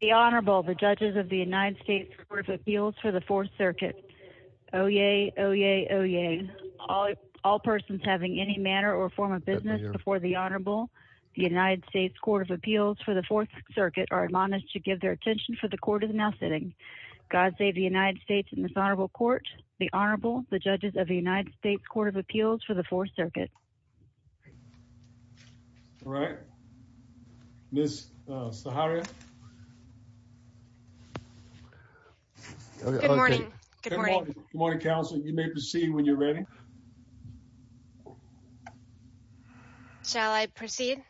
The Honorable, the Judges of the United States Court of Appeals for the Fourth Circuit. Oyez, oyez, oyez. All persons having any manner or form of business before the Honorable, the United States Court of Appeals for the Fourth Circuit, are admonished to give their attention for the Court is now sitting. God save the United States and this Honorable Court. The Honorable, the Judges of the United States Court of Appeals for the Fourth Circuit. All right. Miss Sahara. Good morning. Good morning. Good morning, Counselor. You may proceed when you're ready. Shall I proceed?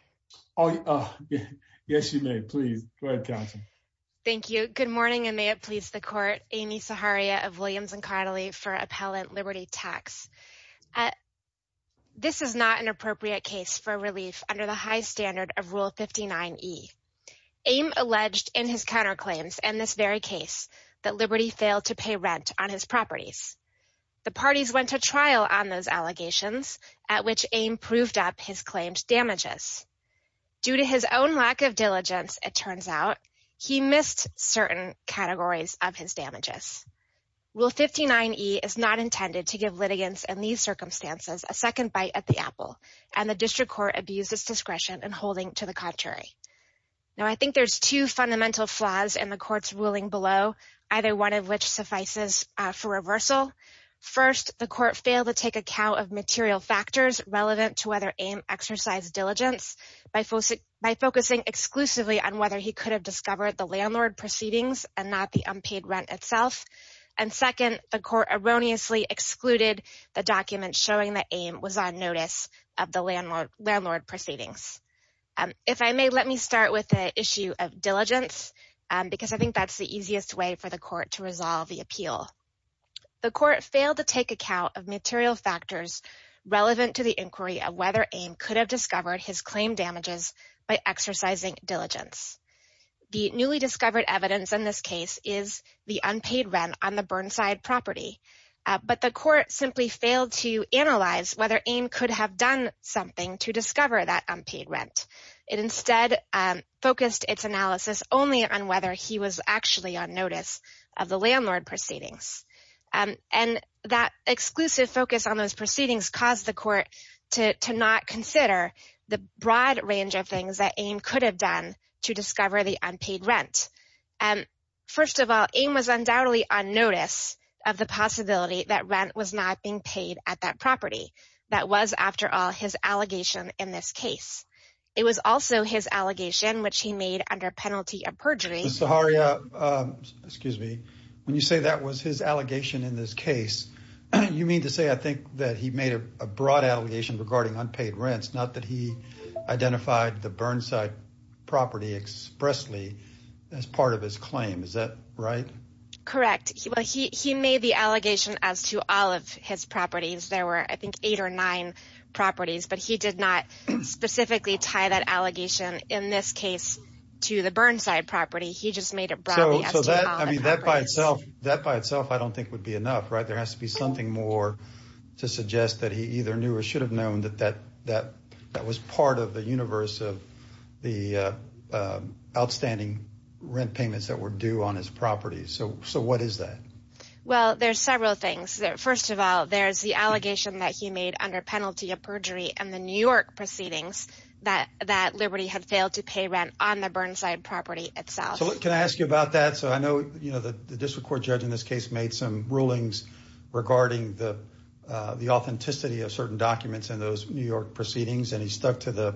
Oh, yes, you may, please. The Honorable, the Judges of the United States Court of Appeals for the Fourth Circuit. Good morning. I'm here to make a brief comment. This is not an appropriate case for relief under the high standard of Rule 59e. Aime alleged in his counterclaims in this very case that Liberty failed to pay rent on his properties. The parties went to trial on those allegations at which Aime proved up his claimed damages. Due to his own lack of diligence, it turns out, he missed certain categories of his damages. Rule 59e is not intended to give litigants in these circumstances a second bite at the apple, and the district court abused its discretion in holding to the contrary. Now, I think there's two fundamental flaws in the court's ruling below, either one of which suffices for reversal. First, the court failed to take account of material factors relevant to whether Aime exercised diligence by focusing exclusively on whether he could have discovered the landlord proceedings and not the unpaid rent itself. And second, the court erroneously excluded the document showing that Aime was on notice of the landlord proceedings. If I may, let me start with the issue of diligence, because I think that's the easiest way for the court to resolve the appeal. The court failed to take account of material factors relevant to the inquiry of whether Aime could have discovered his claimed damages by exercising diligence. The newly discovered evidence in this case is the unpaid rent on the Burnside property, but the court simply failed to analyze whether Aime could have done something to discover that unpaid rent. It instead focused its analysis only on whether he was actually on notice of the landlord proceedings. And that exclusive focus on those proceedings caused the court to not consider the broad range of things that Aime could have done to discover the unpaid rent. First of all, Aime was undoubtedly on notice of the possibility that rent was not being paid at that property. That was, after all, his allegation in this case. It was also his allegation, which he made under penalty of perjury. Ms. Zaharia, when you say that was his allegation in this case, you mean to say, I think, that he made a broad allegation regarding unpaid rents, not that he identified the Burnside property expressly as part of his claim. Is that right? Correct. Well, he made the allegation as to all of his properties. There were, I think, eight or nine properties, but he did not specifically tie that allegation, in this case, to the Burnside property. He just made it broadly as to all the properties. That by itself, I don't think, would be enough, right? There has to be something more to suggest that he either knew or should have known that was part of the universe of the outstanding rent payments that were due on his property. So what is that? Well, there's several things. First of all, there's the allegation that he made under penalty of perjury in the New had failed to pay rent on the Burnside property itself. So can I ask you about that? So I know the district court judge in this case made some rulings regarding the authenticity of certain documents in those New York proceedings, and he stuck to the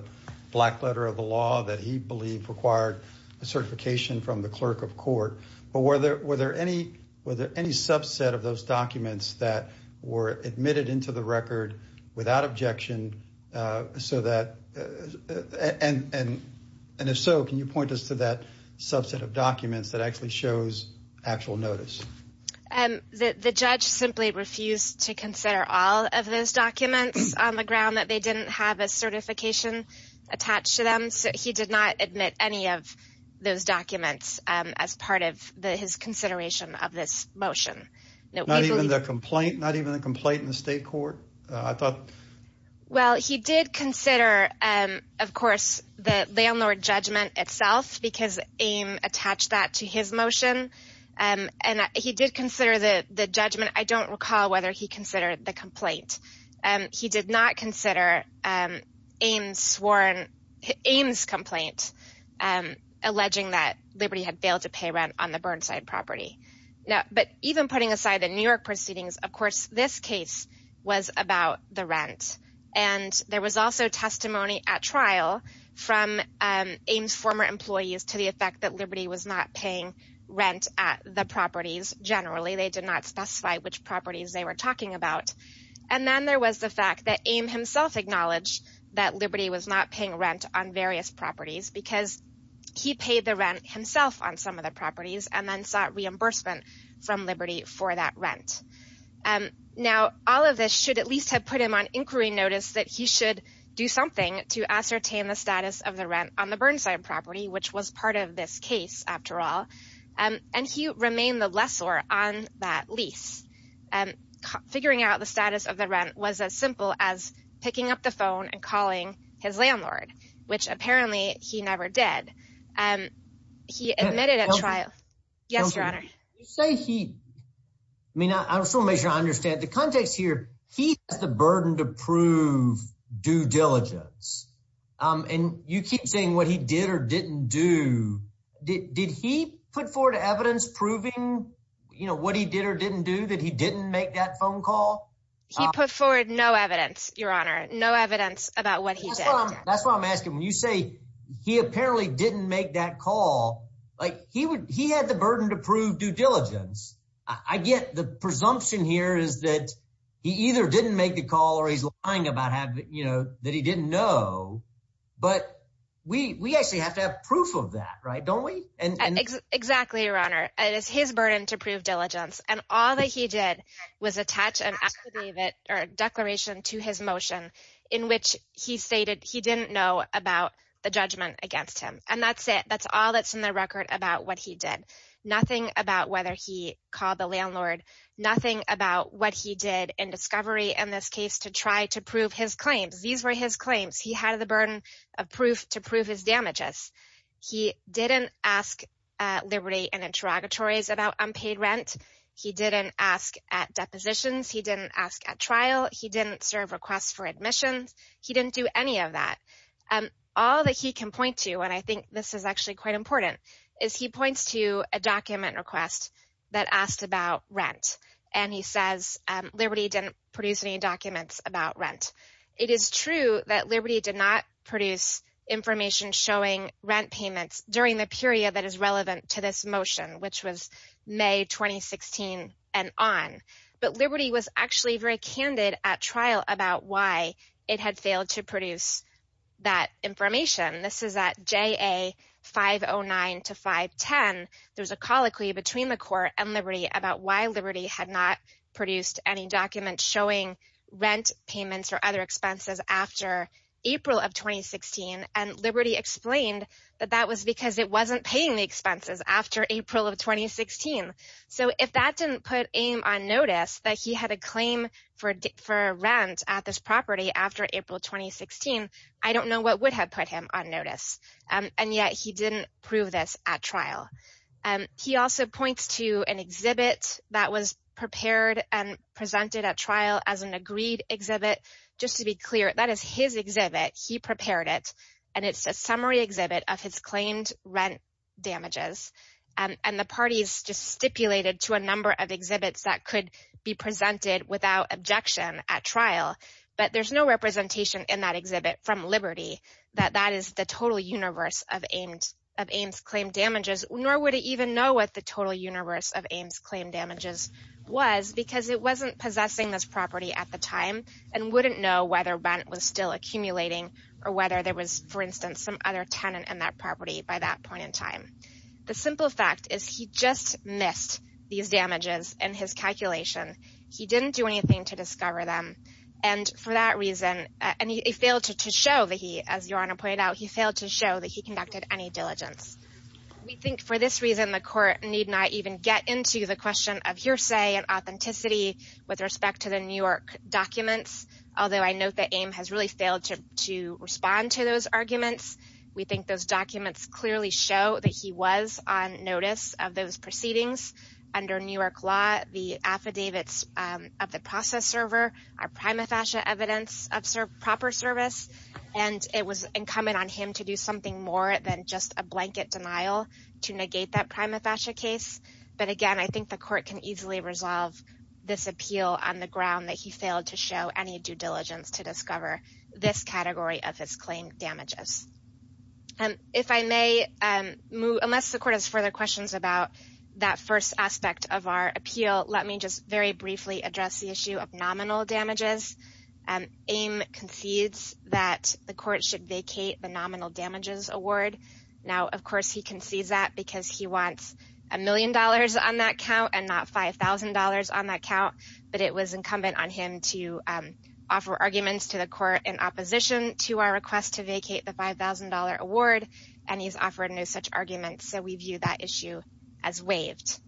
black letter of the law that he believed required a certification from the clerk of court. But were there any subset of those documents that were admitted into the record without objection so that, and if so, can you point us to that subset of documents that actually shows actual notice? The judge simply refused to consider all of those documents on the ground that they didn't have a certification attached to them. He did not admit any of those documents as part of his consideration of this motion. Not even the complaint? Not even the complaint in the state court? Well, he did consider, of course, the landlord judgment itself, because AIM attached that to his motion, and he did consider the judgment. I don't recall whether he considered the complaint. He did not consider AIM's complaint alleging that Liberty had failed to pay rent on the Burnside property. But even putting aside the New York proceedings, of course, this case was about the rent. And there was also testimony at trial from AIM's former employees to the effect that Liberty was not paying rent at the properties generally. They did not specify which properties they were talking about. And then there was the fact that AIM himself acknowledged that Liberty was not paying rent on various properties because he paid the rent himself on some of the properties and then sought reimbursement from Liberty for that rent. Now all of this should at least have put him on inquiry notice that he should do something to ascertain the status of the rent on the Burnside property, which was part of this case after all. And he remained the lessor on that lease. Figuring out the status of the rent was as simple as picking up the phone and calling his landlord, which apparently he never did. He admitted at trial. Yes, Your Honor. You say he... I mean, I just want to make sure I understand the context here. He has the burden to prove due diligence and you keep saying what he did or didn't do. Did he put forward evidence proving what he did or didn't do, that he didn't make that phone call? He put forward no evidence, Your Honor. No evidence about what he did. That's what I'm asking. When you say he apparently didn't make that call, like he had the burden to prove due diligence. I get the presumption here is that he either didn't make the call or he's lying about having, you know, that he didn't know. But we actually have to have proof of that, right? Don't we? Exactly, Your Honor. It is his burden to prove diligence. And all that he did was attach an act to David or a declaration to his motion in which he stated he didn't know about the judgment against him. And that's it. That's all that's in the record about what he did. Nothing about whether he called the landlord. Nothing about what he did in discovery in this case to try to prove his claims. These were his claims. He had the burden of proof to prove his damages. He didn't ask Liberty and interrogatories about unpaid rent. He didn't ask at depositions. He didn't ask at trial. He didn't serve requests for admissions. He didn't do any of that. All that he can point to, and I think this is actually quite important, is he points to a document request that asked about rent. And he says Liberty didn't produce any documents about rent. It is true that Liberty did not produce information showing rent payments during the period that is relevant to this motion, which was May 2016 and on. But Liberty was actually very candid at trial about why it had failed to produce that information. This is at JA 509 to 510. There's a colloquy between the court and Liberty about why Liberty had not produced any documents showing rent payments or other expenses after April of 2016. And Liberty explained that that was because it wasn't paying the expenses after April of 2016. So if that didn't put AIM on notice that he had a claim for rent at this property after April 2016, I don't know what would have put him on notice. He also points to an exhibit that was prepared and presented at trial as an agreed exhibit. Just to be clear, that is his exhibit. He prepared it. And it's a summary exhibit of his claimed rent damages. And the parties just stipulated to a number of exhibits that could be presented without objection at trial. But there's no representation in that exhibit from Liberty that that is the total universe of AIM's claimed damages, nor would it even know what the total universe of AIM's claimed damages was because it wasn't possessing this property at the time and wouldn't know whether rent was still accumulating or whether there was, for instance, some other tenant in that property by that point in time. The simple fact is he just missed these damages in his calculation. He didn't do anything to discover them. And for that reason, and he failed to show that he, as Your Honor pointed out, he failed to show that he conducted any diligence. We think for this reason, the court need not even get into the question of hearsay and authenticity with respect to the New York documents, although I note that AIM has really failed to respond to those arguments. We think those documents clearly show that he was on notice of those proceedings. Under New York law, the affidavits of the process server are prima facie evidence of something more than just a blanket denial to negate that prima facie case. But again, I think the court can easily resolve this appeal on the ground that he failed to show any due diligence to discover this category of his claimed damages. If I may move, unless the court has further questions about that first aspect of our appeal, let me just very briefly address the issue of nominal damages. AIM concedes that the court should vacate the nominal damages award. Now, of course, he concedes that because he wants a million dollars on that count and not $5,000 on that count, but it was incumbent on him to offer arguments to the court in opposition to our request to vacate the $5,000 award, and he's offered no such arguments. So we view that issue as waived.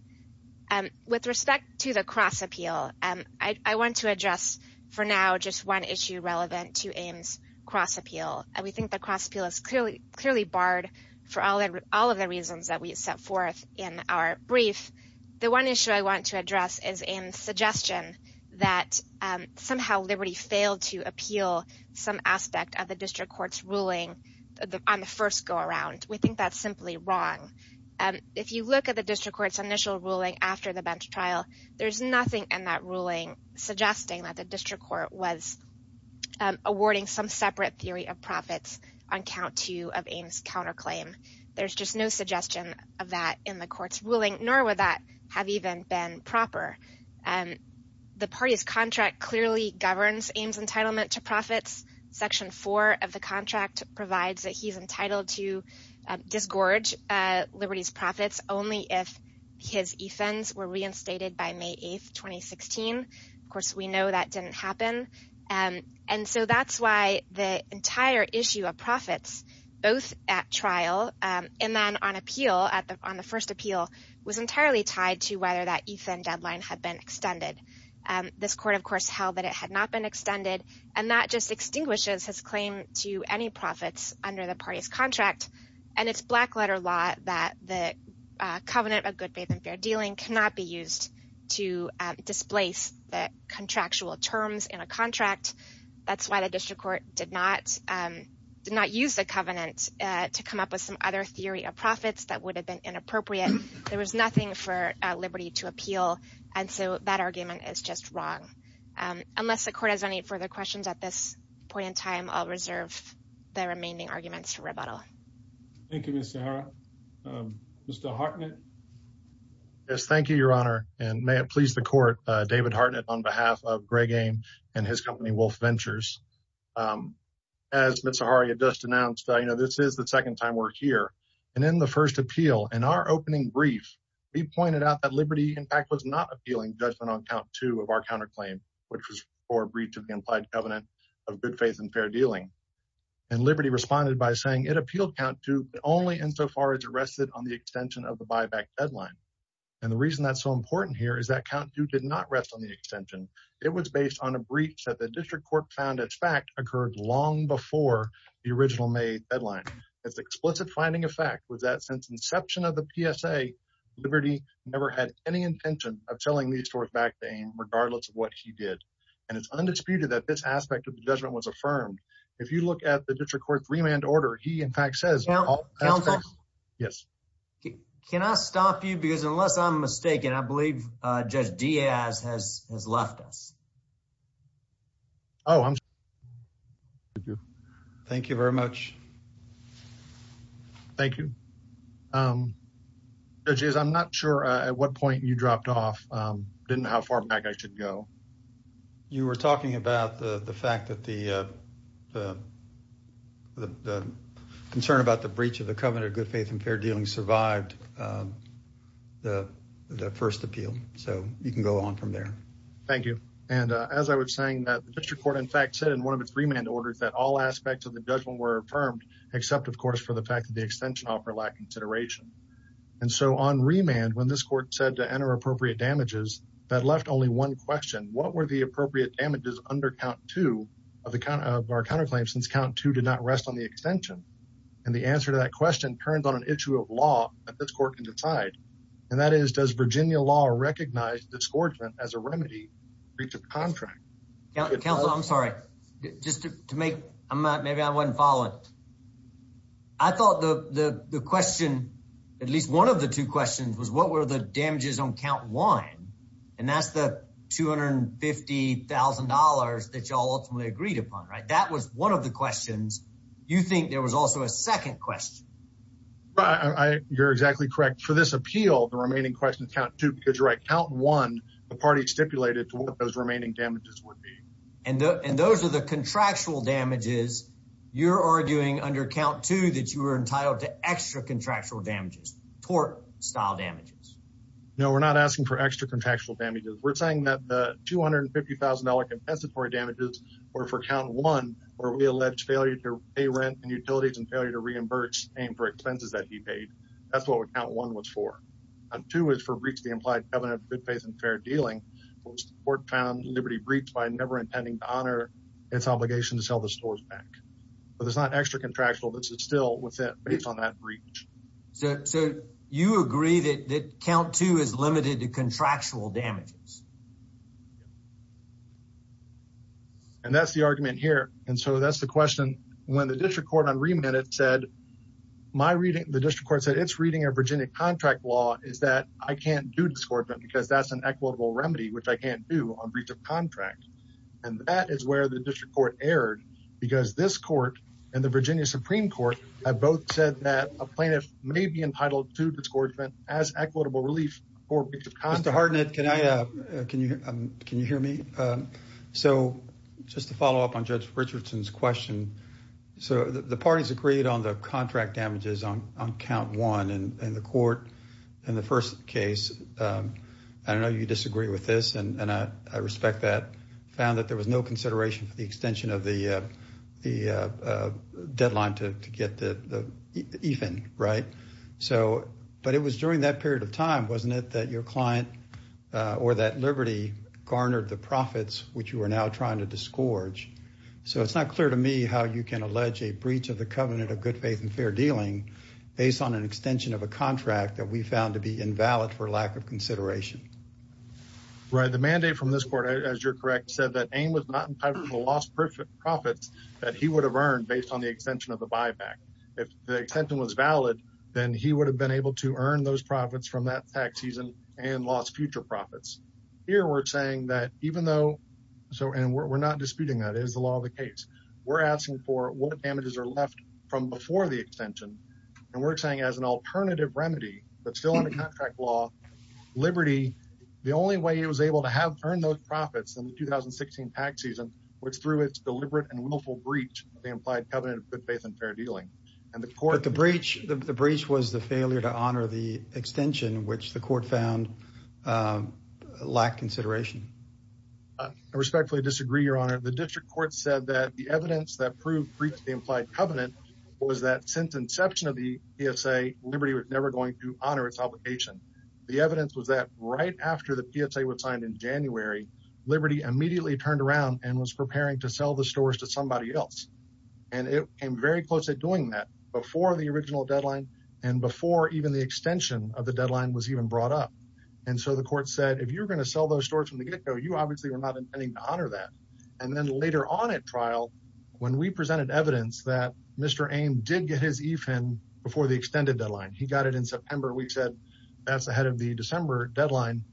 With respect to the cross-appeal, I want to address for now just one issue relevant to AIM's cross-appeal, and we think the cross-appeal is clearly barred for all of the reasons that we set forth in our brief. The one issue I want to address is AIM's suggestion that somehow Liberty failed to appeal some aspect of the district court's ruling on the first go-around. We think that's simply wrong. If you look at the district court's initial ruling after the bench trial, there's nothing in that ruling suggesting that the district court was awarding some separate theory of profits on count two of AIM's counterclaim. There's just no suggestion of that in the court's ruling, nor would that have even been proper. The party's contract clearly governs AIM's entitlement to profits. Section 4 of the contract provides that he's entitled to disgorge Liberty's profits only if his ETHs were reinstated by May 8, 2016. Of course, we know that didn't happen. And so that's why the entire issue of profits, both at trial and then on appeal, on the first appeal, was entirely tied to whether that ETH deadline had been extended. This court, of course, held that it had not been extended. And that just extinguishes his claim to any profits under the party's contract. And it's black-letter law that the covenant of good, faith, and fair dealing cannot be used to displace the contractual terms in a contract. That's why the district court did not use the covenant to come up with some other theory of profits that would have been inappropriate. There was nothing for Liberty to appeal. And so that argument is just wrong. Unless the court has any further questions at this point in time, I'll reserve the remaining arguments for rebuttal. Thank you, Ms. Sahara. Mr. Hartnett? Yes, thank you, Your Honor. And may it please the court, David Hartnett on behalf of Greg AIM and his company, Wolf Ventures. As Ms. Sahara just announced, this is the second time we're here. And in the first appeal, in our opening brief, we pointed out that Liberty, in fact, was not appealing judgment on count two of our counterclaim, which was for a breach of the implied covenant of good, faith, and fair dealing. And Liberty responded by saying it appealed count two, but only insofar as it rested on the extension of the buyback deadline. And the reason that's so important here is that count two did not rest on the extension. It was based on a breach that the district court found, in fact, occurred long before the original May deadline. Its explicit finding of fact was that since inception of the PSA, Liberty never had any intention of selling these stores back to AIM, regardless of what he did. And it's undisputed that this aspect of the judgment was affirmed. If you look at the district court's remand order, he, in fact, says- Yes. Can I stop you? Because unless I'm mistaken, I believe Judge Diaz has left us. Oh, I'm sorry. Thank you very much. Thank you. Judge Diaz, I'm not sure at what point you dropped off, didn't know how far back I should go. You were talking about the fact that the concern about the breach of the covenant of good, faith, and fair dealing survived the first appeal. So you can go on from there. Thank you. And as I was saying that the district court, in fact, said in one of its remand orders that all aspects of the judgment were affirmed, except, of course, for the fact that the extension offer lack consideration. And so on remand, when this court said to enter appropriate damages, that left only one question. What were the appropriate damages under count two of our counterclaims, since count two did not rest on the extension? And the answer to that question turns on an issue of law that this court can decide. And that is, does Virginia law recognize disgorgement as a remedy to breach of contract? Counselor, I'm sorry. Just to make- Maybe I wasn't following. I thought the question, at least one of the two questions, was what were the damages on count one? And that's the $250,000 that you all ultimately agreed upon, right? That was one of the questions. You think there was also a second question? You're exactly correct. For this appeal, the remaining questions count two, because you're right. Count one, the party stipulated to what those remaining damages would be. And those are the contractual damages. You're arguing under count two that you were entitled to extra contractual damages, tort-style damages. No, we're not asking for extra contractual damages. We're saying that the $250,000 compensatory damages were for count one, where we alleged failure to pay rent and utilities and failure to reimburse aimed for expenses that he paid. That's what count one was for. And two is for breach of the implied covenant of good faith and fair dealing, which the court found liberty breached by never intending to honor its obligation to sell the stores back. But it's not extra contractual. This is still within, based on that breach. So you agree that count two is limited to contractual damages? And that's the argument here. And so that's the question. When the district court on remit said, my reading, the district court said, it's reading a Virginia contract law is that I can't do this court because that's an equitable remedy, which I can't do on breach of contract. And that is where the district court erred because this court and the Virginia Supreme Court have both said that a plaintiff may be entitled to discouragement as equitable relief for breach of contract. Mr. Hardnett, can you hear me? So just to follow up on Judge Richardson's question, so the parties agreed on the contract damages on count one and the court in the first case. I know you disagree with this, and I respect that. Found that there was no consideration for the extension of the deadline to get even, right? But it was during that period of time, wasn't it, that your client or that Liberty garnered the profits, which you are now trying to disgorge. So it's not clear to me how you can allege a breach of the covenant of good faith and fair dealing based on an extension of a contract that we found to be invalid for lack of consideration. Right, the mandate from this court, as you're correct, said that AIM was not entitled to lost profits that he would have earned based on the extension of the buyback. If the extension was valid, then he would have been able to earn those profits from that tax season and lost future profits. Here we're saying that even though so and we're not disputing that is the law of the case. We're asking for what damages are left from before the extension, and we're saying as an alternative remedy that's still in the contract law, Liberty, the only way he was able to have earned those profits in the 2016 tax season, which through its deliberate and willful breach, the implied covenant of good faith and fair dealing and the court. But the breach, the breach was the failure to honor the extension, which the court found lack consideration. I respectfully disagree, Your Honor. The district court said that the evidence that proved breach of the implied covenant was that since inception of the PSA, Liberty was never going to honor its obligation. The evidence was that right after the PSA was signed in January, Liberty immediately turned around and was preparing to sell the stores to somebody else. And it came very close to doing that before the original deadline and before even the extension of the deadline was even brought up. And so the court said, if you're going to sell those stores from the get go, you obviously were not intending to honor that. And then later on at trial, when we presented evidence that Mr. Ame did get his EFIN before the extended deadline, he got it in September. We said that's ahead of the December deadline.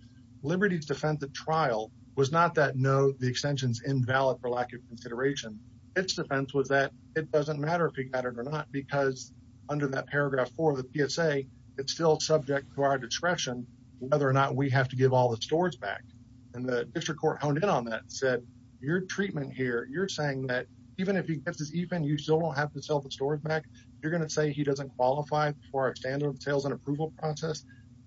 Liberty's defense at trial was not that no, the extension's invalid for lack of consideration. Its defense was that it doesn't matter if he got it or not, because under that paragraph four of the PSA, it's still subject to our discretion whether or not we have to give all the stores back. And the district court honed in on that and said, your treatment here, you're saying that even if he gets his EFIN, you still don't have to sell the stores back? You're going to say he doesn't qualify for our standard of sales and approval process?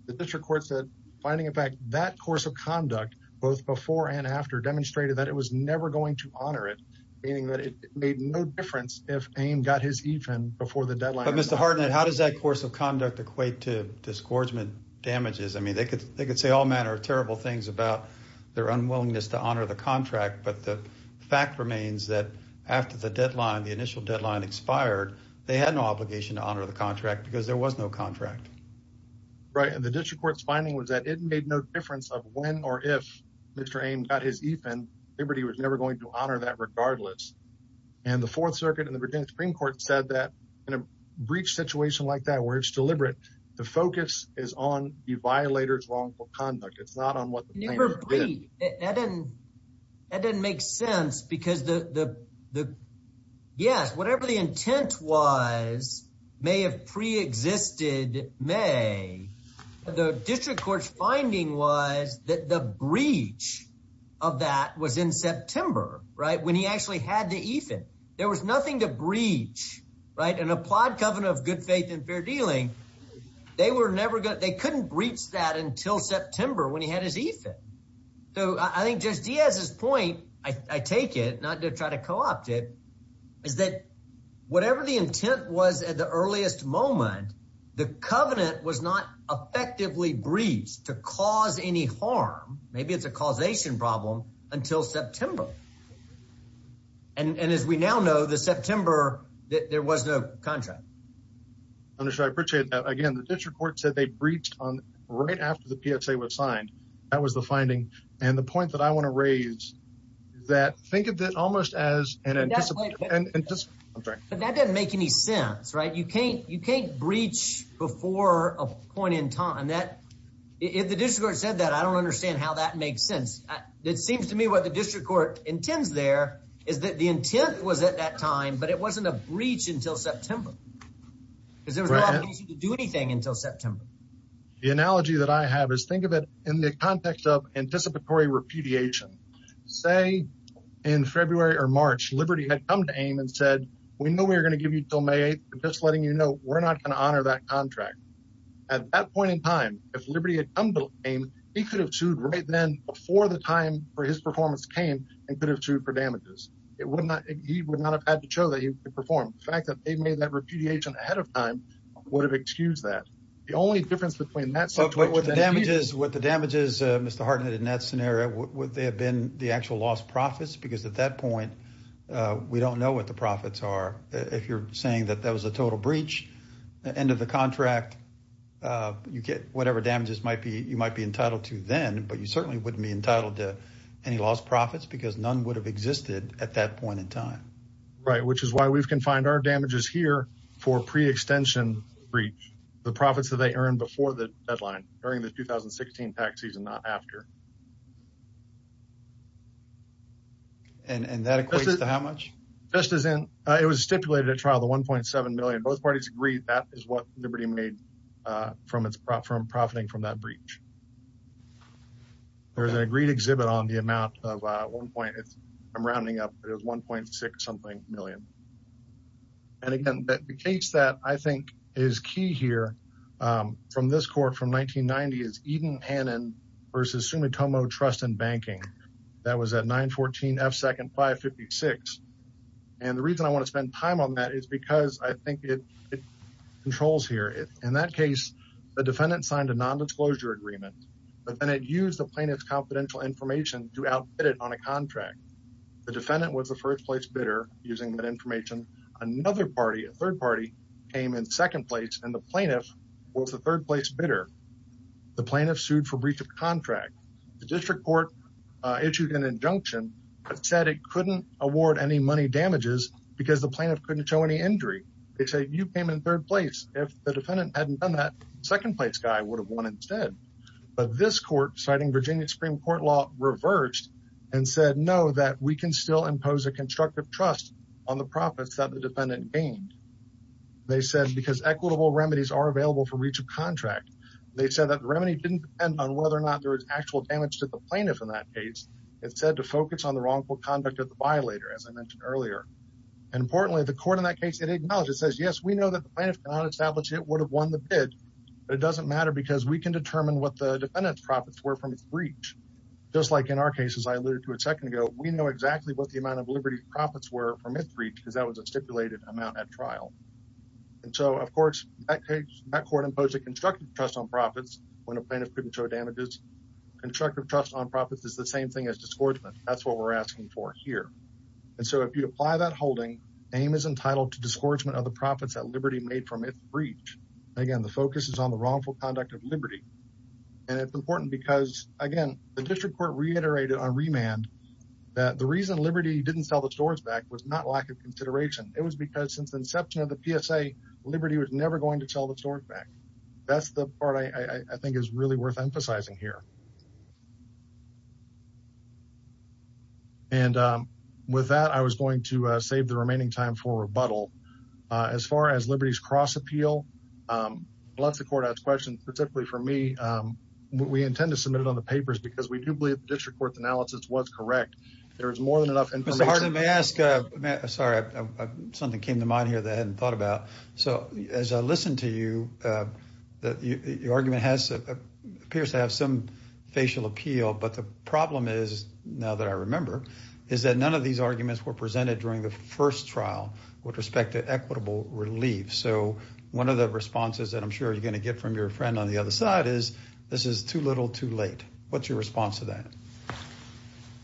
The district court said, finding in fact that course of conduct both before and after demonstrated that it was never going to honor it, meaning that it made no difference if Ame got his EFIN before the deadline. But Mr. Harden, how does that course of conduct equate to disgorgement damages? I mean, they could say all manner of terrible things about their unwillingness to honor the contract, but the fact remains that after the initial deadline expired, they had no obligation to honor the contract because there was no contract. Right. And the district court's finding was that it made no difference of when or if Mr. Ame got his EFIN. Liberty was never going to honor that regardless. And the Fourth Circuit and the Virginia Supreme Court said that in a breach situation like that where it's deliberate. The focus is on the violator's wrongful conduct. It's not on what the plaintiff did. That didn't make sense because the yes, whatever the intent was may have preexisted may. The district court's finding was that the breach of that was in September, right, when he actually had the EFIN. There was nothing to breach. Right. An applied covenant of good faith and fair dealing. They were never good. They couldn't breach that until September when he had his EFIN. So I think Judge Diaz's point, I take it not to try to co-opt it, is that whatever the intent was at the earliest moment, the covenant was not effectively breached to cause any harm. Maybe it's a causation problem until September. And as we now know, the September that there was no contract. I'm sure I appreciate that. Again, the district court said they breached on right after the PSA was signed. That was the finding. And the point that I want to raise is that think of it almost as an anticipated and just I'm sorry, but that doesn't make any sense, right? You can't you can't breach before a point in time that if the district court said that, I don't understand how that makes sense. It seems to me what the district court intends there is that the intent was at that time, but it wasn't a breach until September. Because there was no reason to do anything until September. The analogy that I have is think of it in the context of anticipatory repudiation, say in February or March, Liberty had come to AIM and said, we know we're going to give you till May 8th. We're just letting you know we're not going to honor that contract. At that point in time, if Liberty had come to AIM, he could have sued right then before the time for his performance came and could have sued for damages. It would not, he would not have had to show that he performed. The fact that they made that repudiation ahead of time would have excused that. The only difference between that. What the damage is, Mr. Hartnett, in that scenario, would they have been the actual lost profits? Because at that point, we don't know what the profits are. If you're saying that that was a total breach, the end of the contract, you get whatever damages you might be entitled to then, but you certainly wouldn't be entitled to any lost profits because none would have existed at that point in time. Right. Which is why we've confined our damages here for pre-extension breach, the profits that they earned before the deadline, during the 2016 tax season, not after. And that equates to how much? Just as in, it was stipulated at trial, the $1.7 million. Both parties agreed that is what Liberty made from profiting from that breach. There's an agreed exhibit on the amount of, at one point, I'm rounding up, it was $1.6 something million. And again, the case that I think is key here, from this court, from 1990, is Eden Hannon versus Sumitomo Trust and Banking. That was at 914 F2nd 556. And the reason I want to spend time on that is because I think it controls here. In that case, the defendant signed a nondisclosure agreement, but then it used the plaintiff's confidential information to outbid it on a contract. The defendant was the first place bidder using that information. Another party, a third party, came in second place and the plaintiff was the third place bidder. The plaintiff sued for breach of contract. The district court issued an injunction that said it couldn't award any money damages because the plaintiff couldn't show any injury. They said, you came in third place. If the defendant hadn't done that, second place guy would have won instead. But this court, citing Virginia Supreme Court law, reverged and said, no, that we can still impose a constructive trust on the profits that the defendant gained. They said, because equitable remedies are available for breach of contract. They said that the remedy didn't depend on whether or not there was actual damage to the plaintiff in that case. It said to focus on the wrongful conduct of the violator, as I mentioned earlier. And importantly, the court in that case, it acknowledged, it says, yes, we know that the plaintiff cannot establish it would have won the bid, but it doesn't matter because we can determine what the defendant's profits were from his breach. Just like in our case, as I alluded to a second ago, we know exactly what the amount of liberty profits were from his breach because that was a stipulated amount at trial. And so, of course, that court imposed a constructive trust on profits when a plaintiff couldn't show damages. Constructive trust on profits is the same thing as disgorgement. That's what we're asking for here. And so, if you apply that holding, aim is entitled to disgorgement of the profits that liberty made from its breach. Again, the focus is on the wrongful conduct of liberty. And it's important because, again, the district court reiterated on remand that the reason liberty didn't sell the stores back was not lack of consideration. It was because, since the inception of the PSA, liberty was never going to sell the stores back. That's the part I think is really worth emphasizing here. And with that, I was going to save the remaining time for rebuttal. As far as liberty's cross-appeal, unless the court asks questions specifically for me, we intend to submit it on the papers because we do believe the district court's analysis was correct. There is more than enough information. May I ask, sorry, something came to mind here that I hadn't thought about. So, as I listened to you, your argument appears to have some facial appeal. But the problem is, now that I remember, is that none of these arguments were presented during the first trial with respect to equitable relief. So, one of the responses that I'm sure you're going to get from your friend on the other side is, this is too little, too late. What's your response to that?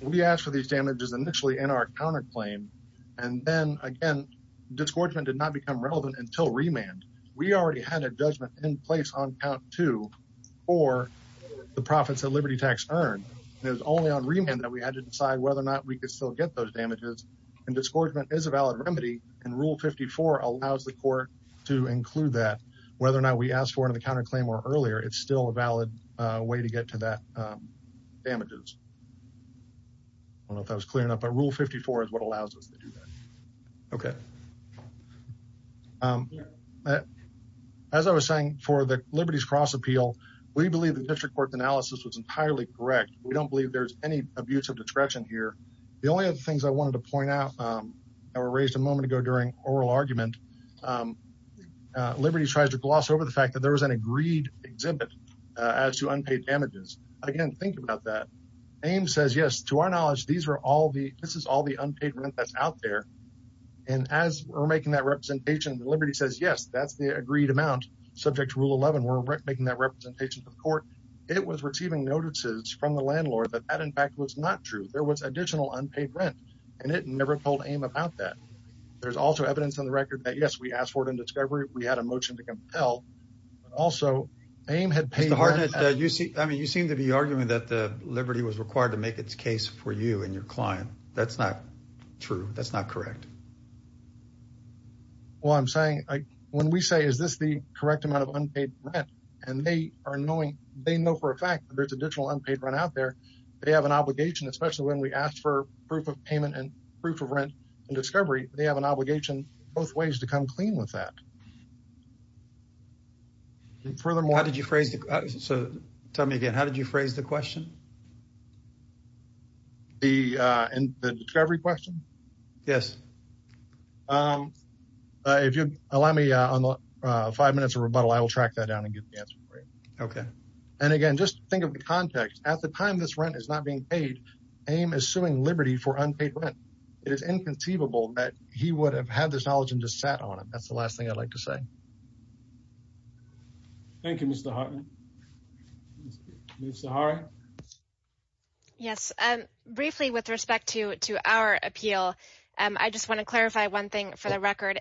We asked for these damages initially in our counterclaim, and then again, disgorgement did not become relevant until remand. We already had a judgment in place on count two for the profits that Liberty Tax earned. It was only on remand that we had to decide whether or not we could still get those damages. And disgorgement is a valid remedy, and Rule 54 allows the court to include that. Whether or not we asked for it in the counterclaim or earlier, it's still a valid way to get to that damages. I don't know if that was clear enough, but Rule 54 is what allows us to do that. Okay. As I was saying, for the Liberties Cross Appeal, we believe the district court's analysis was entirely correct. We don't believe there's any abuse of discretion here. The only other things I wanted to point out that were raised a moment ago during oral argument, Liberties tries to gloss over the fact that there was an agreed exhibit as to damages. Again, think about that. AIM says, yes, to our knowledge, this is all the unpaid rent that's out there. And as we're making that representation, Liberty says, yes, that's the agreed amount subject to Rule 11. We're making that representation to the court. It was receiving notices from the landlord that that, in fact, was not true. There was additional unpaid rent, and it never told AIM about that. There's also evidence on the record that, yes, we asked for it in discovery. We had a motion to compel. Also, AIM had paid rent. Mr. Hardnett, I mean, you seem to be arguing that Liberty was required to make its case for you and your client. That's not true. That's not correct. Well, I'm saying, when we say, is this the correct amount of unpaid rent? And they are knowing, they know for a fact that there's additional unpaid rent out there. They have an obligation, especially when we ask for proof of payment and proof of rent in discovery, they have an obligation both ways to come clean with that. Furthermore, how did you phrase it? So tell me again, how did you phrase the question? The discovery question? Yes. If you allow me five minutes of rebuttal, I will track that down and get the answer. Okay. And again, just think of the context. At the time this rent is not being paid, AIM is suing Liberty for unpaid rent. It is inconceivable that he would have had this knowledge and just sat on it. That's the last thing I'd like to say. Thank you, Mr. Hartman. Ms. Sahari? Yes. Briefly, with respect to our appeal, I just want to clarify one thing for the record.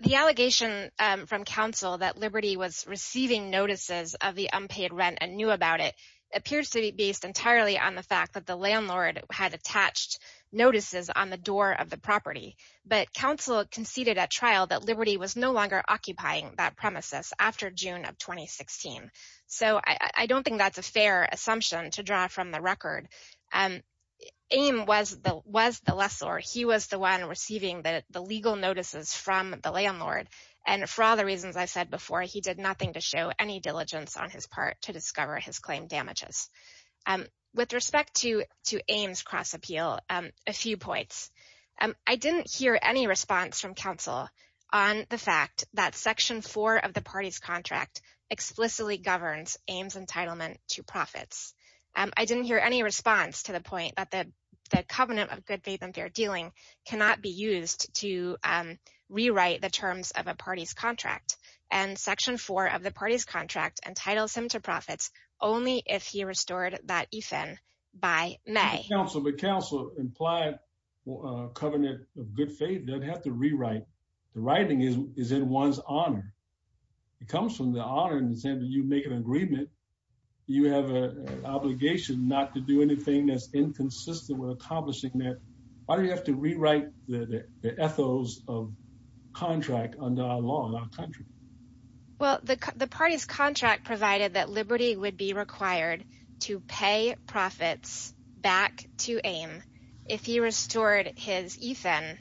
The allegation from counsel that Liberty was receiving notices of the unpaid rent and knew about it appears to be based entirely on the fact that the landlord had attached notices on the door of the property. But counsel conceded at trial that Liberty was no longer occupying that premises after June of 2016. So I don't think that's a fair assumption to draw from the record. AIM was the lessor. He was the one receiving the legal notices from the landlord. And for all the reasons I said before, he did nothing to show any diligence on his part to discover his claim damages. With respect to AIM's cross-appeal, a few points. I didn't hear any response from counsel on the fact that section four of the party's contract explicitly governs AIM's entitlement to profits. I didn't hear any response to the point that the covenant of good faith and fair dealing cannot be used to rewrite the terms of a party's contract. And section four of the party's contract entitles him to profits only if he restored that EFIN by May. Counsel, but counsel implied a covenant of good faith doesn't have to rewrite. The writing is in one's honor. It comes from the honor in the sense that you make an agreement. You have an obligation not to do anything that's inconsistent with accomplishing that. Why do you have to rewrite the ethos of contract under our law in our country? Well, the party's contract provided that Liberty would be required to pay profits back to AIM if he restored his EFIN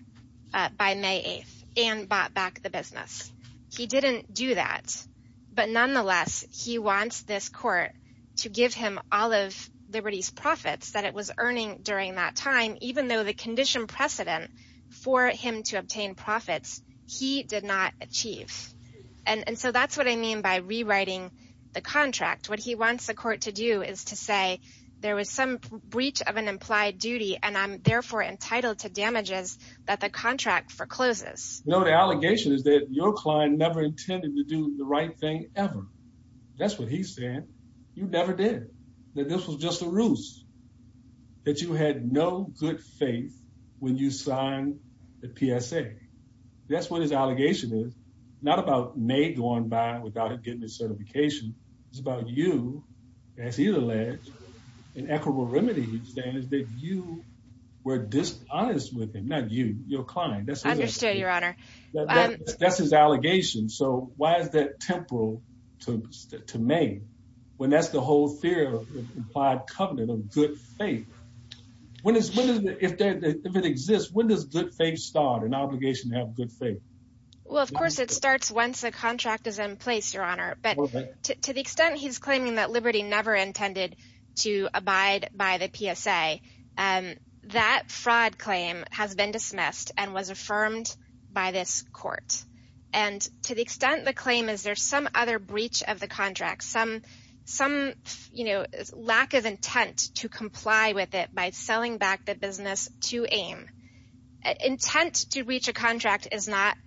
by May 8th and bought back the business. He didn't do that. But nonetheless, he wants this court to give him all of Liberty's profits that it was earning during that time, even though the condition precedent for him to obtain profits he did not achieve. And so that's what I mean by rewriting the contract. What he wants the court to do is to say there was some breach of an implied duty, and I'm therefore entitled to damages that the contract forecloses. No, the allegation is that your client never intended to do the right thing ever. That's what he said. You never did that. This was just a ruse that you had no good faith when you signed the PSA. That's what his allegation is, not about May going by without getting a certification. It's about you, as he alleged, an equitable remedy, he's saying, is that you were dishonest with him. Not you, your client. I understand, Your Honor. That's his allegation. So why is that temporal to May when that's the whole fear of implied covenant of good faith? When is, if it exists, when does good faith start, an obligation to have good faith? Well, of course, it starts once the contract is in place, Your Honor. But to the extent he's claiming that Liberty never intended to abide by the PSA, that fraud claim has been dismissed and was affirmed by this court. And to the extent the claim is there's some other breach of the contract, some lack of it by selling back the business to AIM. Intent to breach a contract is not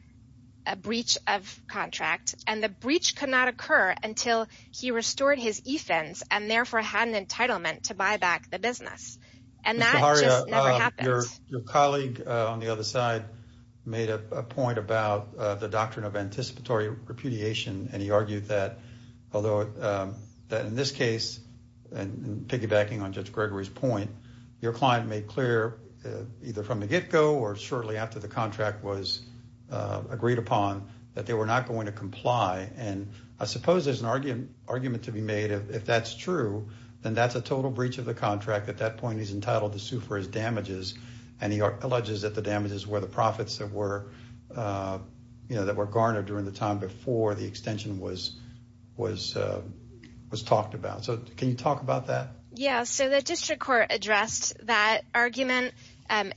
a breach of contract. And the breach could not occur until he restored his e-fins and therefore had an entitlement to buy back the business. And that just never happened. Mr. Harria, your colleague on the other side made a point about the doctrine of anticipatory repudiation. And he argued that although that in this case, and piggybacking on Judge Gregory's point, your client made clear either from the get-go or shortly after the contract was agreed upon that they were not going to comply. And I suppose there's an argument to be made. If that's true, then that's a total breach of the contract. At that point, he's entitled to sue for his damages. And he alleges that the damages were the profits that were, you know, that were garnered during the time before the extension was talked about. So can you talk about that? Yeah. So the district court addressed that argument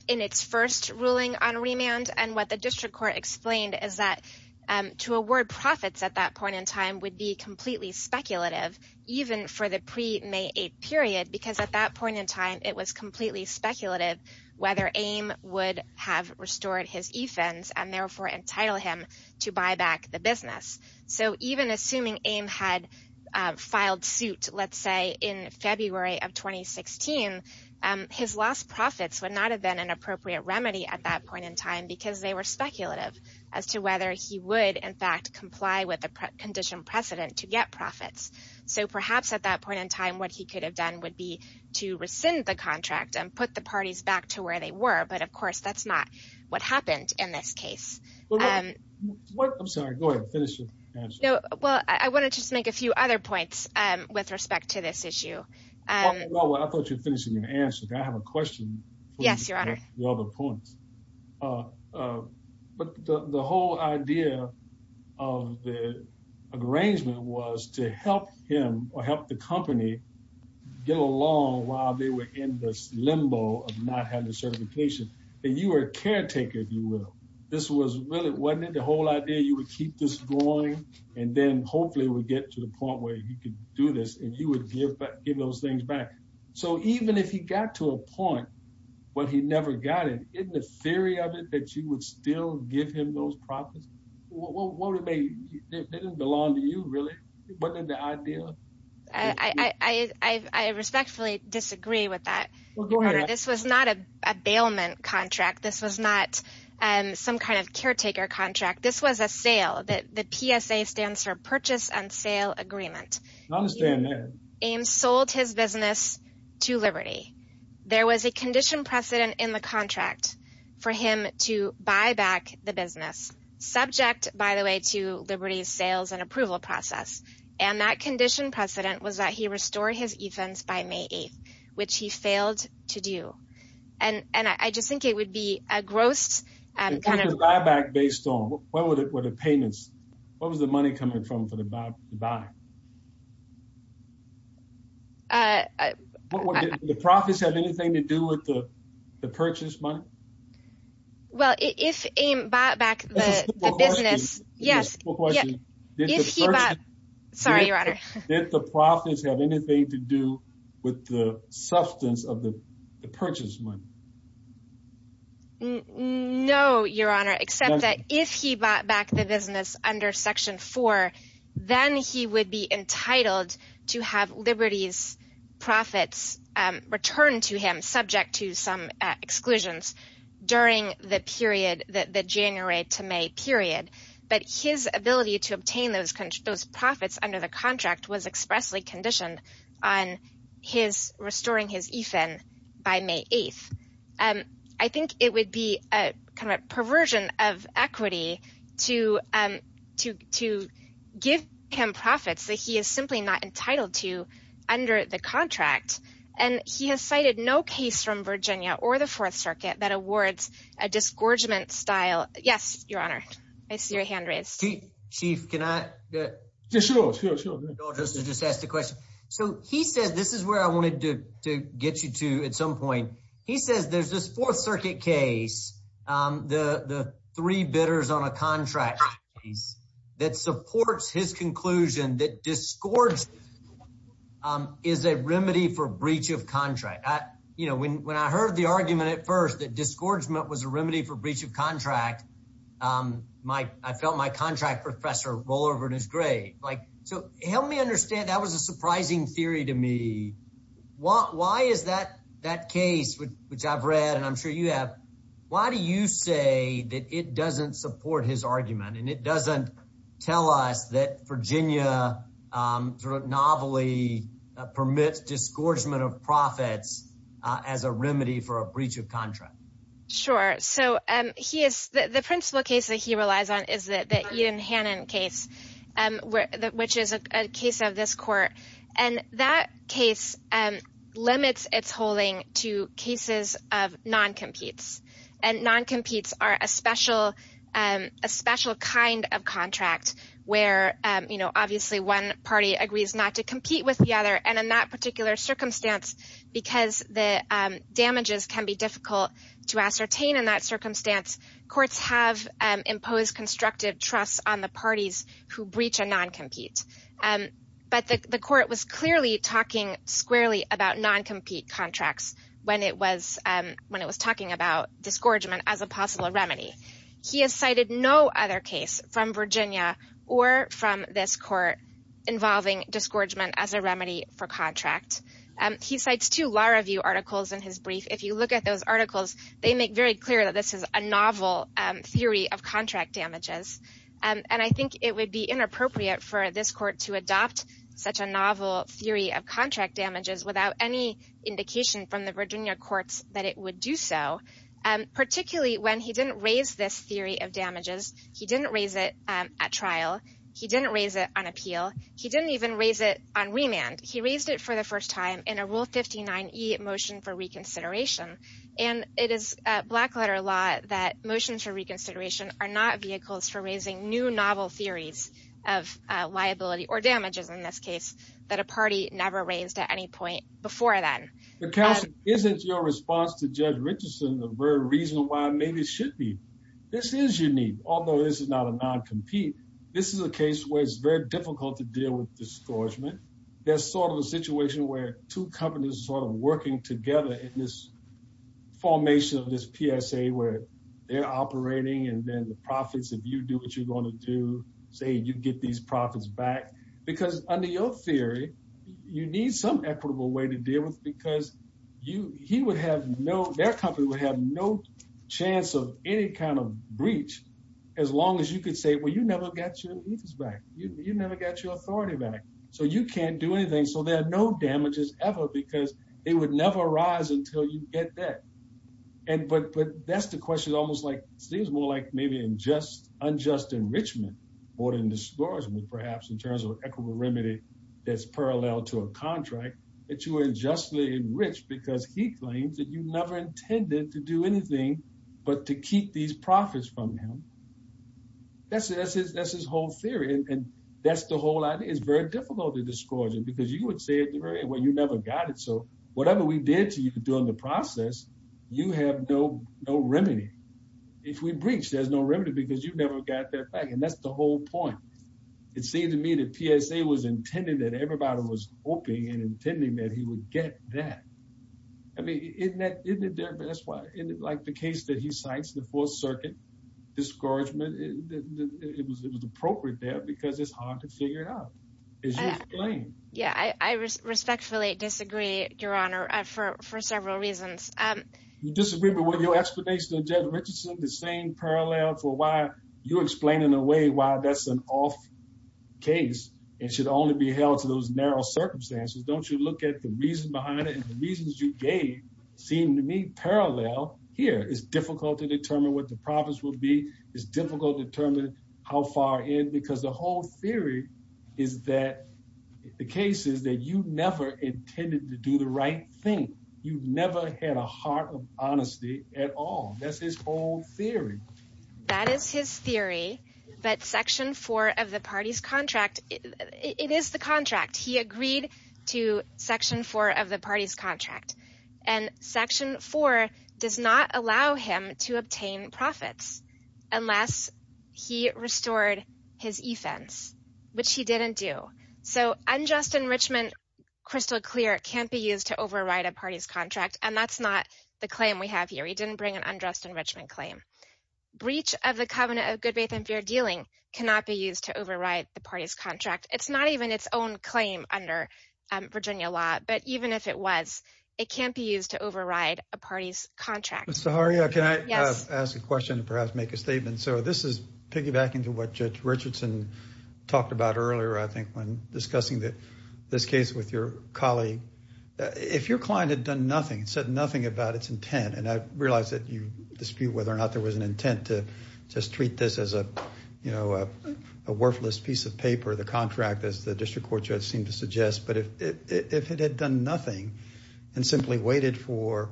in its first ruling on remand. And what the district court explained is that to award profits at that point in time would be completely speculative, even for the pre-May 8th period, because at that point in time, it was completely speculative whether AIM would have restored his e-fins and therefore entitle him to buy back the business. So even assuming AIM had filed suit, let's say, in February of 2016, his lost profits would not have been an appropriate remedy at that point in time because they were speculative as to whether he would, in fact, comply with the conditional precedent to get profits. So perhaps at that point in time, what he could have done would be to rescind the contract and put the parties back to where they were. But of course, that's not what happened in this case. I'm sorry. Go ahead. Finish your answer. No. Well, I want to just make a few other points with respect to this issue. Well, I thought you were finishing your answer. Can I have a question? Yes, Your Honor. The other points. But the whole idea of the arrangement was to help him or help the company get along while they were in this limbo of not having a certification. And you were a caretaker, if you will. This was really, wasn't it, the whole idea you would keep this going and then hopefully it would get to the point where he could do this and you would give those things back. So even if he got to a point where he never got it, isn't the theory of it that you would still give him those profits? What would it mean? It didn't belong to you, really. Wasn't it the idea? I respectfully disagree with that. Well, go ahead. This was not a bailment contract. This was not some kind of caretaker contract. This was a sale. The PSA stands for Purchase and Sale Agreement. I understand that. Ames sold his business to Liberty. There was a condition precedent in the contract for him to buy back the business, subject, by the way, to Liberty's sales and approval process. And that condition precedent was that he restored his events by May 8th, which he failed to do. And I just think it would be a gross kind of- If he could buy back based on what were the payments? What was the money coming from for the buy? Did the profits have anything to do with the purchase money? Well, if Ames bought back the business- That's a simple question. Yes. It's a simple question. If he bought- Sorry, Your Honor. Did the profits have anything to do with the substance of the purchase money? No, Your Honor, except that if he bought back the business under Section 4, then he would be entitled to have Liberty's profits returned to him, subject to some exclusions during the period, the January to May period. But his ability to obtain those profits under the contract was expressly conditioned on restoring his event by May 8th. I think it would be a perversion of equity to give him profits that he is simply not entitled to under the contract. And he has cited no case from Virginia or the Fourth Circuit that awards a disgorgement style- Yes, Your Honor. I see your hand raised. Chief, can I- Yeah, sure, sure, sure. I'll just ask the question. So he said, this is where I wanted to get you to at some point. He says there's this Fourth Circuit case, the three bidders on a contract case, that supports his conclusion that disgorgement is a remedy for breach of contract. When I heard the argument at first that disgorgement was a remedy for breach of contract, I felt my contract professor roll over in his grave. So help me understand. That was a surprising theory to me. Why is that case, which I've read and I'm sure you have, why do you say that it doesn't support his argument and it doesn't tell us that Virginia novelly permits disgorgement of profits as a remedy for a breach of contract? Sure. So the principal case that he relies on is the Ian Hannon case, which is a case of this court. And that case limits its holding to cases of non-competes. And non-competes are a special kind of contract where obviously one party agrees not to compete with the other. And in that particular circumstance, because the damages can be difficult to ascertain in that circumstance, courts have imposed constructive trust on the parties who breach a non-compete. But the court was clearly talking squarely about non-compete contracts when it was talking about disgorgement as a possible remedy. He has cited no other case from Virginia or from this court involving disgorgement as a remedy for contract. He cites two Law Review articles in his brief. If you look at those articles, they make very clear that this is a novel theory of contract damages. And I think it would be inappropriate for this court to adopt such a novel theory of contract damages without any indication from the Virginia courts that it would do so. Particularly when he didn't raise this theory of damages. He didn't raise it at trial. He didn't raise it on appeal. He didn't even raise it on remand. He raised it for the first time in a Rule 59e motion for reconsideration. And it is a black letter law that motions for reconsideration are not vehicles for raising new novel theories of liability or damages in this case that a party never raised at any point before then. But counsel, isn't your response to Judge Richardson the very reason why maybe it should be? This is unique, although this is not a non-compete. This is a case where it's very difficult to deal with disgorgement. There's sort of a situation where two companies are sort of working together in this formation of this PSA where they're operating and then the profits, if you do what you're going to do, say, you get these profits back. Because under your theory, you need some equitable way to deal with because he would have no, their company would have no chance of any kind of breach as long as you could say, well, you never got your interests back. You never got your authority back. So you can't do anything. So there are no damages ever because it would never rise until you get that. And, but that's the question almost like, seems more like maybe unjust enrichment more than disgorgement perhaps in terms of equitability that's parallel to a contract that you were unjustly enriched because he claims that you never intended to do anything but to keep these profits from him. That's his whole theory. And that's the whole idea. It's very difficult to discourage him because you would say, well, you never got it. So whatever we did to you during the process, you have no remedy. If we breach, there's no remedy because you've never got that back. And that's the whole point. It seemed to me that PSA was intended that everybody was hoping and intending that he would get that. I mean, isn't that, isn't it there? That's why in like the case that he cites in the fourth circuit discouragement, it was appropriate there because it's hard to figure it out. As you explain. Yeah, I respectfully disagree, Your Honor, for several reasons. You disagree, but with your explanation of Jed Richardson, the same parallel for why you explain in a way why that's an off case, it should only be held to those narrow circumstances. Don't you look at the reason behind it and the reasons you gave seem to me parallel here. It's difficult to determine what the profits will be. It's difficult to determine how far in, because the whole theory is that the case is that you never intended to do the right thing. You've never had a heart of honesty at all. That's his whole theory. That is his theory, but section four of the party's contract, it is the contract. He agreed to section four of the party's contract and section four does not allow him to obtain profits. Unless he restored his e-fence, which he didn't do. So unjust enrichment, crystal clear, can't be used to override a party's contract. And that's not the claim we have here. He didn't bring an unjust enrichment claim. Breach of the covenant of good faith and fair dealing cannot be used to override the party's contract. It's not even its own claim under Virginia law, but even if it was, it can't be used to override a party's contract. Ms. Zaharia, can I ask a question and perhaps make a statement? So this is piggybacking to what Judge Richardson talked about earlier, I think, when discussing this case with your colleague. If your client had done nothing, said nothing about its intent, and I realize that you dispute whether or not there was an intent to just treat this as a worthless piece of paper, the contract as the district court judge seemed to suggest, but if it had done nothing and simply waited for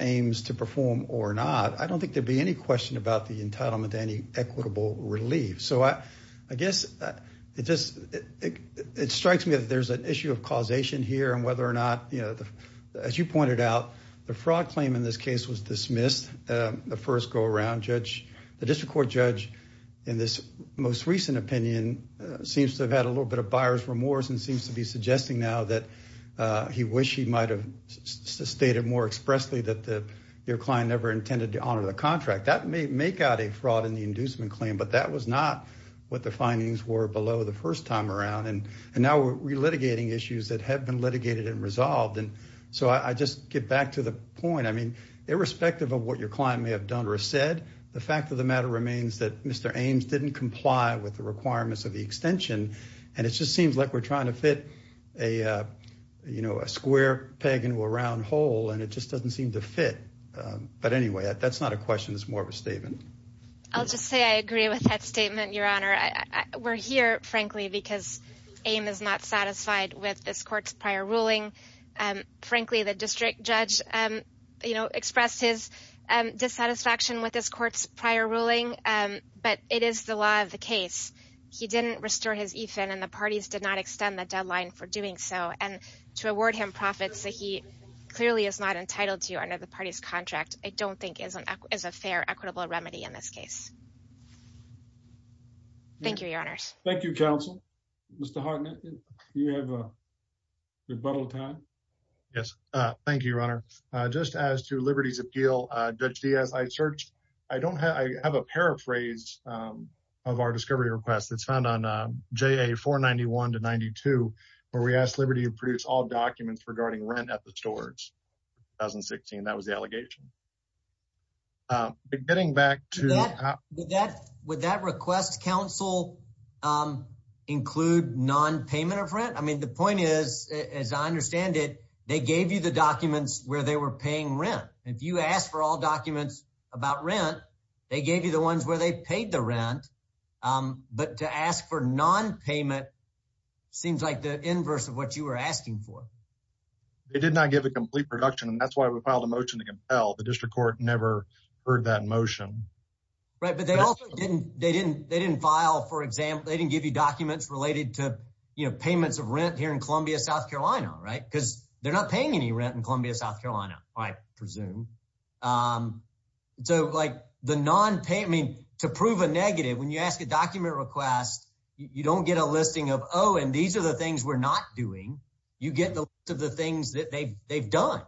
aims to perform or not, I don't think there'd be any question about the entitlement to any equitable relief. So I guess it just, it strikes me that there's an issue of causation here and whether or not, you know, as you pointed out, the fraud claim in this case was dismissed the first go around. Judge, the district court judge, in this most recent opinion, seems to have had a little bit of buyer's remorse and seems to be suggesting now that he wished he might've stated more expressly that your client never intended to honor the contract. That may make out a fraud in the inducement claim, but that was not what the findings were below the first time around. And now we're relitigating issues that have been litigated and resolved. And so I just get back to the point. I mean, irrespective of what your client may have done or said, the fact of the matter remains that Mr. Ames didn't comply with the requirements of the extension. And it just seems like we're trying to fit a, you know, a square peg into a round hole and it just doesn't seem to fit. But anyway, that's not a question. It's more of a statement. I'll just say I agree with that statement, Your Honor. We're here, frankly, because Ames is not satisfied with this court's prior ruling. Frankly, the district judge, you know, expressed his dissatisfaction with this court's prior ruling, but it is the law of the case. He didn't restore his EFIN and the parties did not extend the deadline for doing so. And to award him profits that he clearly is not entitled to under the party's contract, I don't think is a fair equitable remedy in this case. Thank you, Your Honors. Thank you, counsel. Mr. Harknett, do you have a rebuttal time? Yes, thank you, Your Honor. Just as to Liberty's appeal, Judge Diaz, I searched, I don't have, I have a paraphrase of our discovery request. It's found on JA 491 to 92, where we asked Liberty to produce all documents regarding rent at the stores in 2016. That was the allegation. Getting back to... Would that request, counsel, include non-payment of rent? I mean, the point is, as I understand it, they gave you the documents where they were paying rent. If you ask for all documents about rent, they gave you the ones where they paid the rent. But to ask for non-payment seems like the inverse of what you were asking for. They did not give a complete production, and that's why we filed a motion to compel. The district court never heard that motion. Right, but they also didn't, they didn't file, for example, they didn't give you documents related to, you know, payments of rent here in Columbia, South Carolina, right? Because they're not paying any rent in Columbia, South Carolina, I presume. So, like, the non-pay, I mean, to prove a negative, when you ask a document request, you don't get a listing of, oh, and these are the things we're not doing. You get the list of the things that they've done.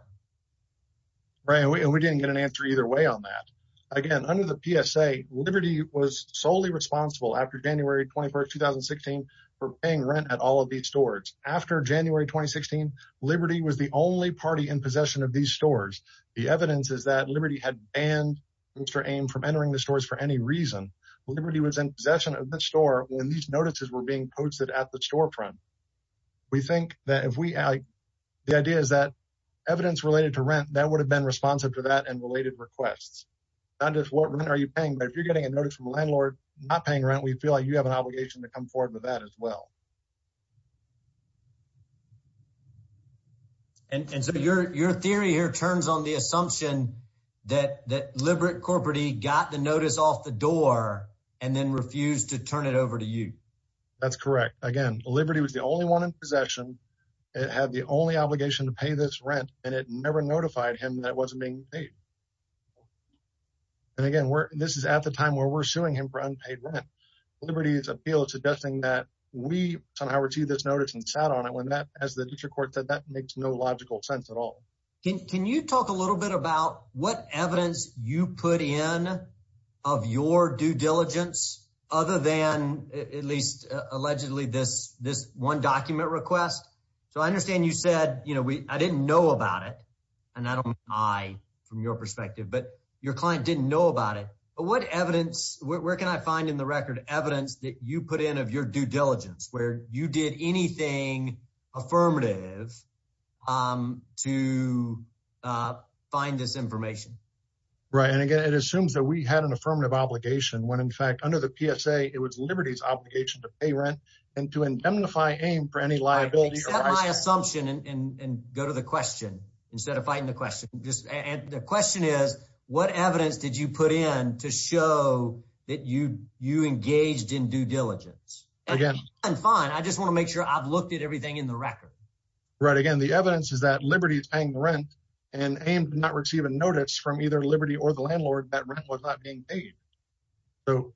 Right, and we didn't get an answer either way on that. Again, under the PSA, Liberty was solely responsible after January 21st, 2016, for paying rent at all of these stores. After January 2016, Liberty was the only party in possession of these stores. The evidence is that Liberty had banned Mr. Ame from entering the stores for any reason. Liberty was in possession of the store when these notices were being posted at the storefront. We think that if we, the idea is that evidence related to rent, that would have been responsive to that and related requests. Not just what rent are you paying, but if you're getting a notice from a landlord not paying rent, we feel like you have an obligation to come forward with that as well. And so your theory here turns on the assumption that Libert Corporate got the notice off the door and then refused to turn it over to you. That's correct. Again, Liberty was the only one in possession. It had the only obligation to pay this rent and it never notified him that it wasn't being paid. And again, this is at the time where we're suing him for unpaid rent. Liberty's appeal is suggesting that we somehow received this notice and sat on it when that, as the district court said, that makes no logical sense at all. Can you talk a little bit about what evidence you put in of your due diligence, other than at least allegedly this one document request? So I understand you said, I didn't know about it, and I don't know from your perspective, but your client didn't know about it. But what evidence, where can I find in the record evidence that you put in of your due diligence where you did anything affirmative to find this information? Right. And again, it assumes that we had an affirmative obligation when in fact, under the PSA, it was Liberty's obligation to pay rent and to indemnify AIM for any liability. Accept my assumption and go to the question instead of fighting the question. The question is, what evidence did you put in to show that you engaged in due diligence? Again, fine. I just want to make sure I've looked at everything in the record. Right. Again, the evidence is that Liberty's paying rent and AIM did not receive a notice from either Liberty or the landlord that rent was not being paid. So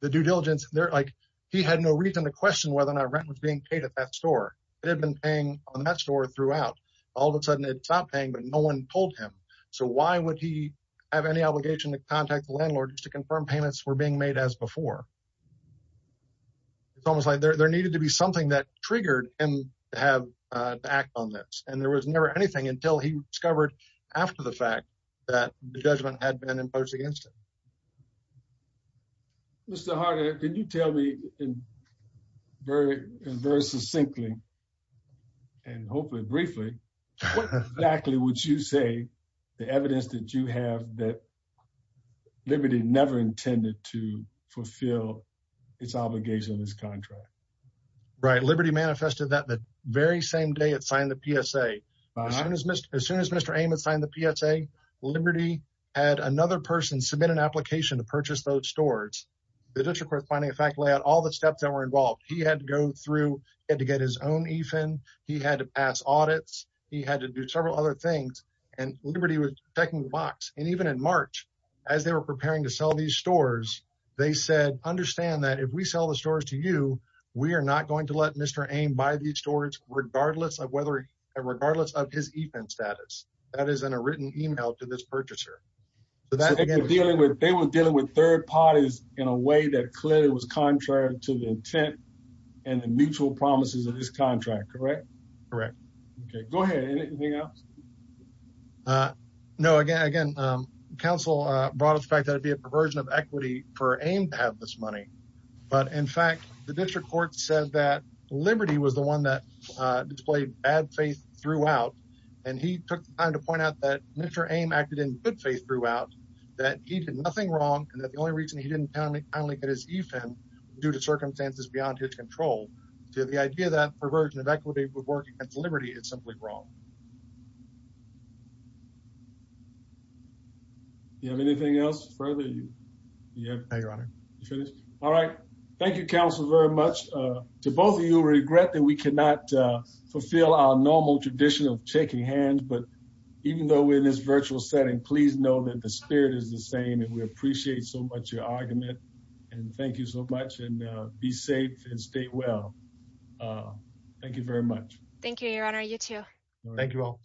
the due diligence, they're like, he had no reason to question whether or not rent was being paid at that store. It had been paying on that store throughout. All of a sudden it stopped paying, but no one told him. So why would he have any obligation to contact the landlord just to confirm payments were being made as before? It's almost like there needed to be something that triggered him to act on this. And there was never anything until he discovered after the fact that the judgment had been imposed against him. Mr. Harder, can you tell me very succinctly and hopefully briefly, what exactly would you say the evidence that you have that Liberty never intended to fulfill its obligation on this contract? Right. Liberty manifested that the very same day it signed the PSA. As soon as Mr. Amos signed the PSA, Liberty had another person submit an application to purchase those stores. The district court finding effect lay out all the steps that were involved. He had to go through, he had to get his own EFIN. He had to pass audits. He had to do several other things. And Liberty was checking the box. And even in March, as they were preparing to sell these stores, they said, understand that if we sell the stores to you, we are not going to let Mr. Ame buy these stores, regardless of whether, regardless of his EFIN status. That is in a written email to this purchaser. They were dealing with third parties in a way that clearly was contrary to the intent and the mutual promises of this contract, correct? Correct. OK, go ahead. Anything else? No, again, council brought up the fact that it'd be a perversion of equity for Ame to have this money. But in fact, the district court said that Liberty was the one that displayed bad faith throughout. And he took the time to point out that Mr. Ame acted in good faith throughout, that he did nothing wrong and that the only reason he didn't finally get his EFIN due to circumstances beyond his control to the idea that perversion of equity would work against Liberty is simply wrong. You have anything else further? No, your honor. All right. Thank you, council, very much. To both of you, regret that we cannot fulfill our normal tradition of shaking hands. But even though we're in this virtual setting, please know that the spirit is the same and we appreciate so much your argument. And thank you so much and be safe and stay well. Thank you very much. Thank you, your honor. You too. Thank you all.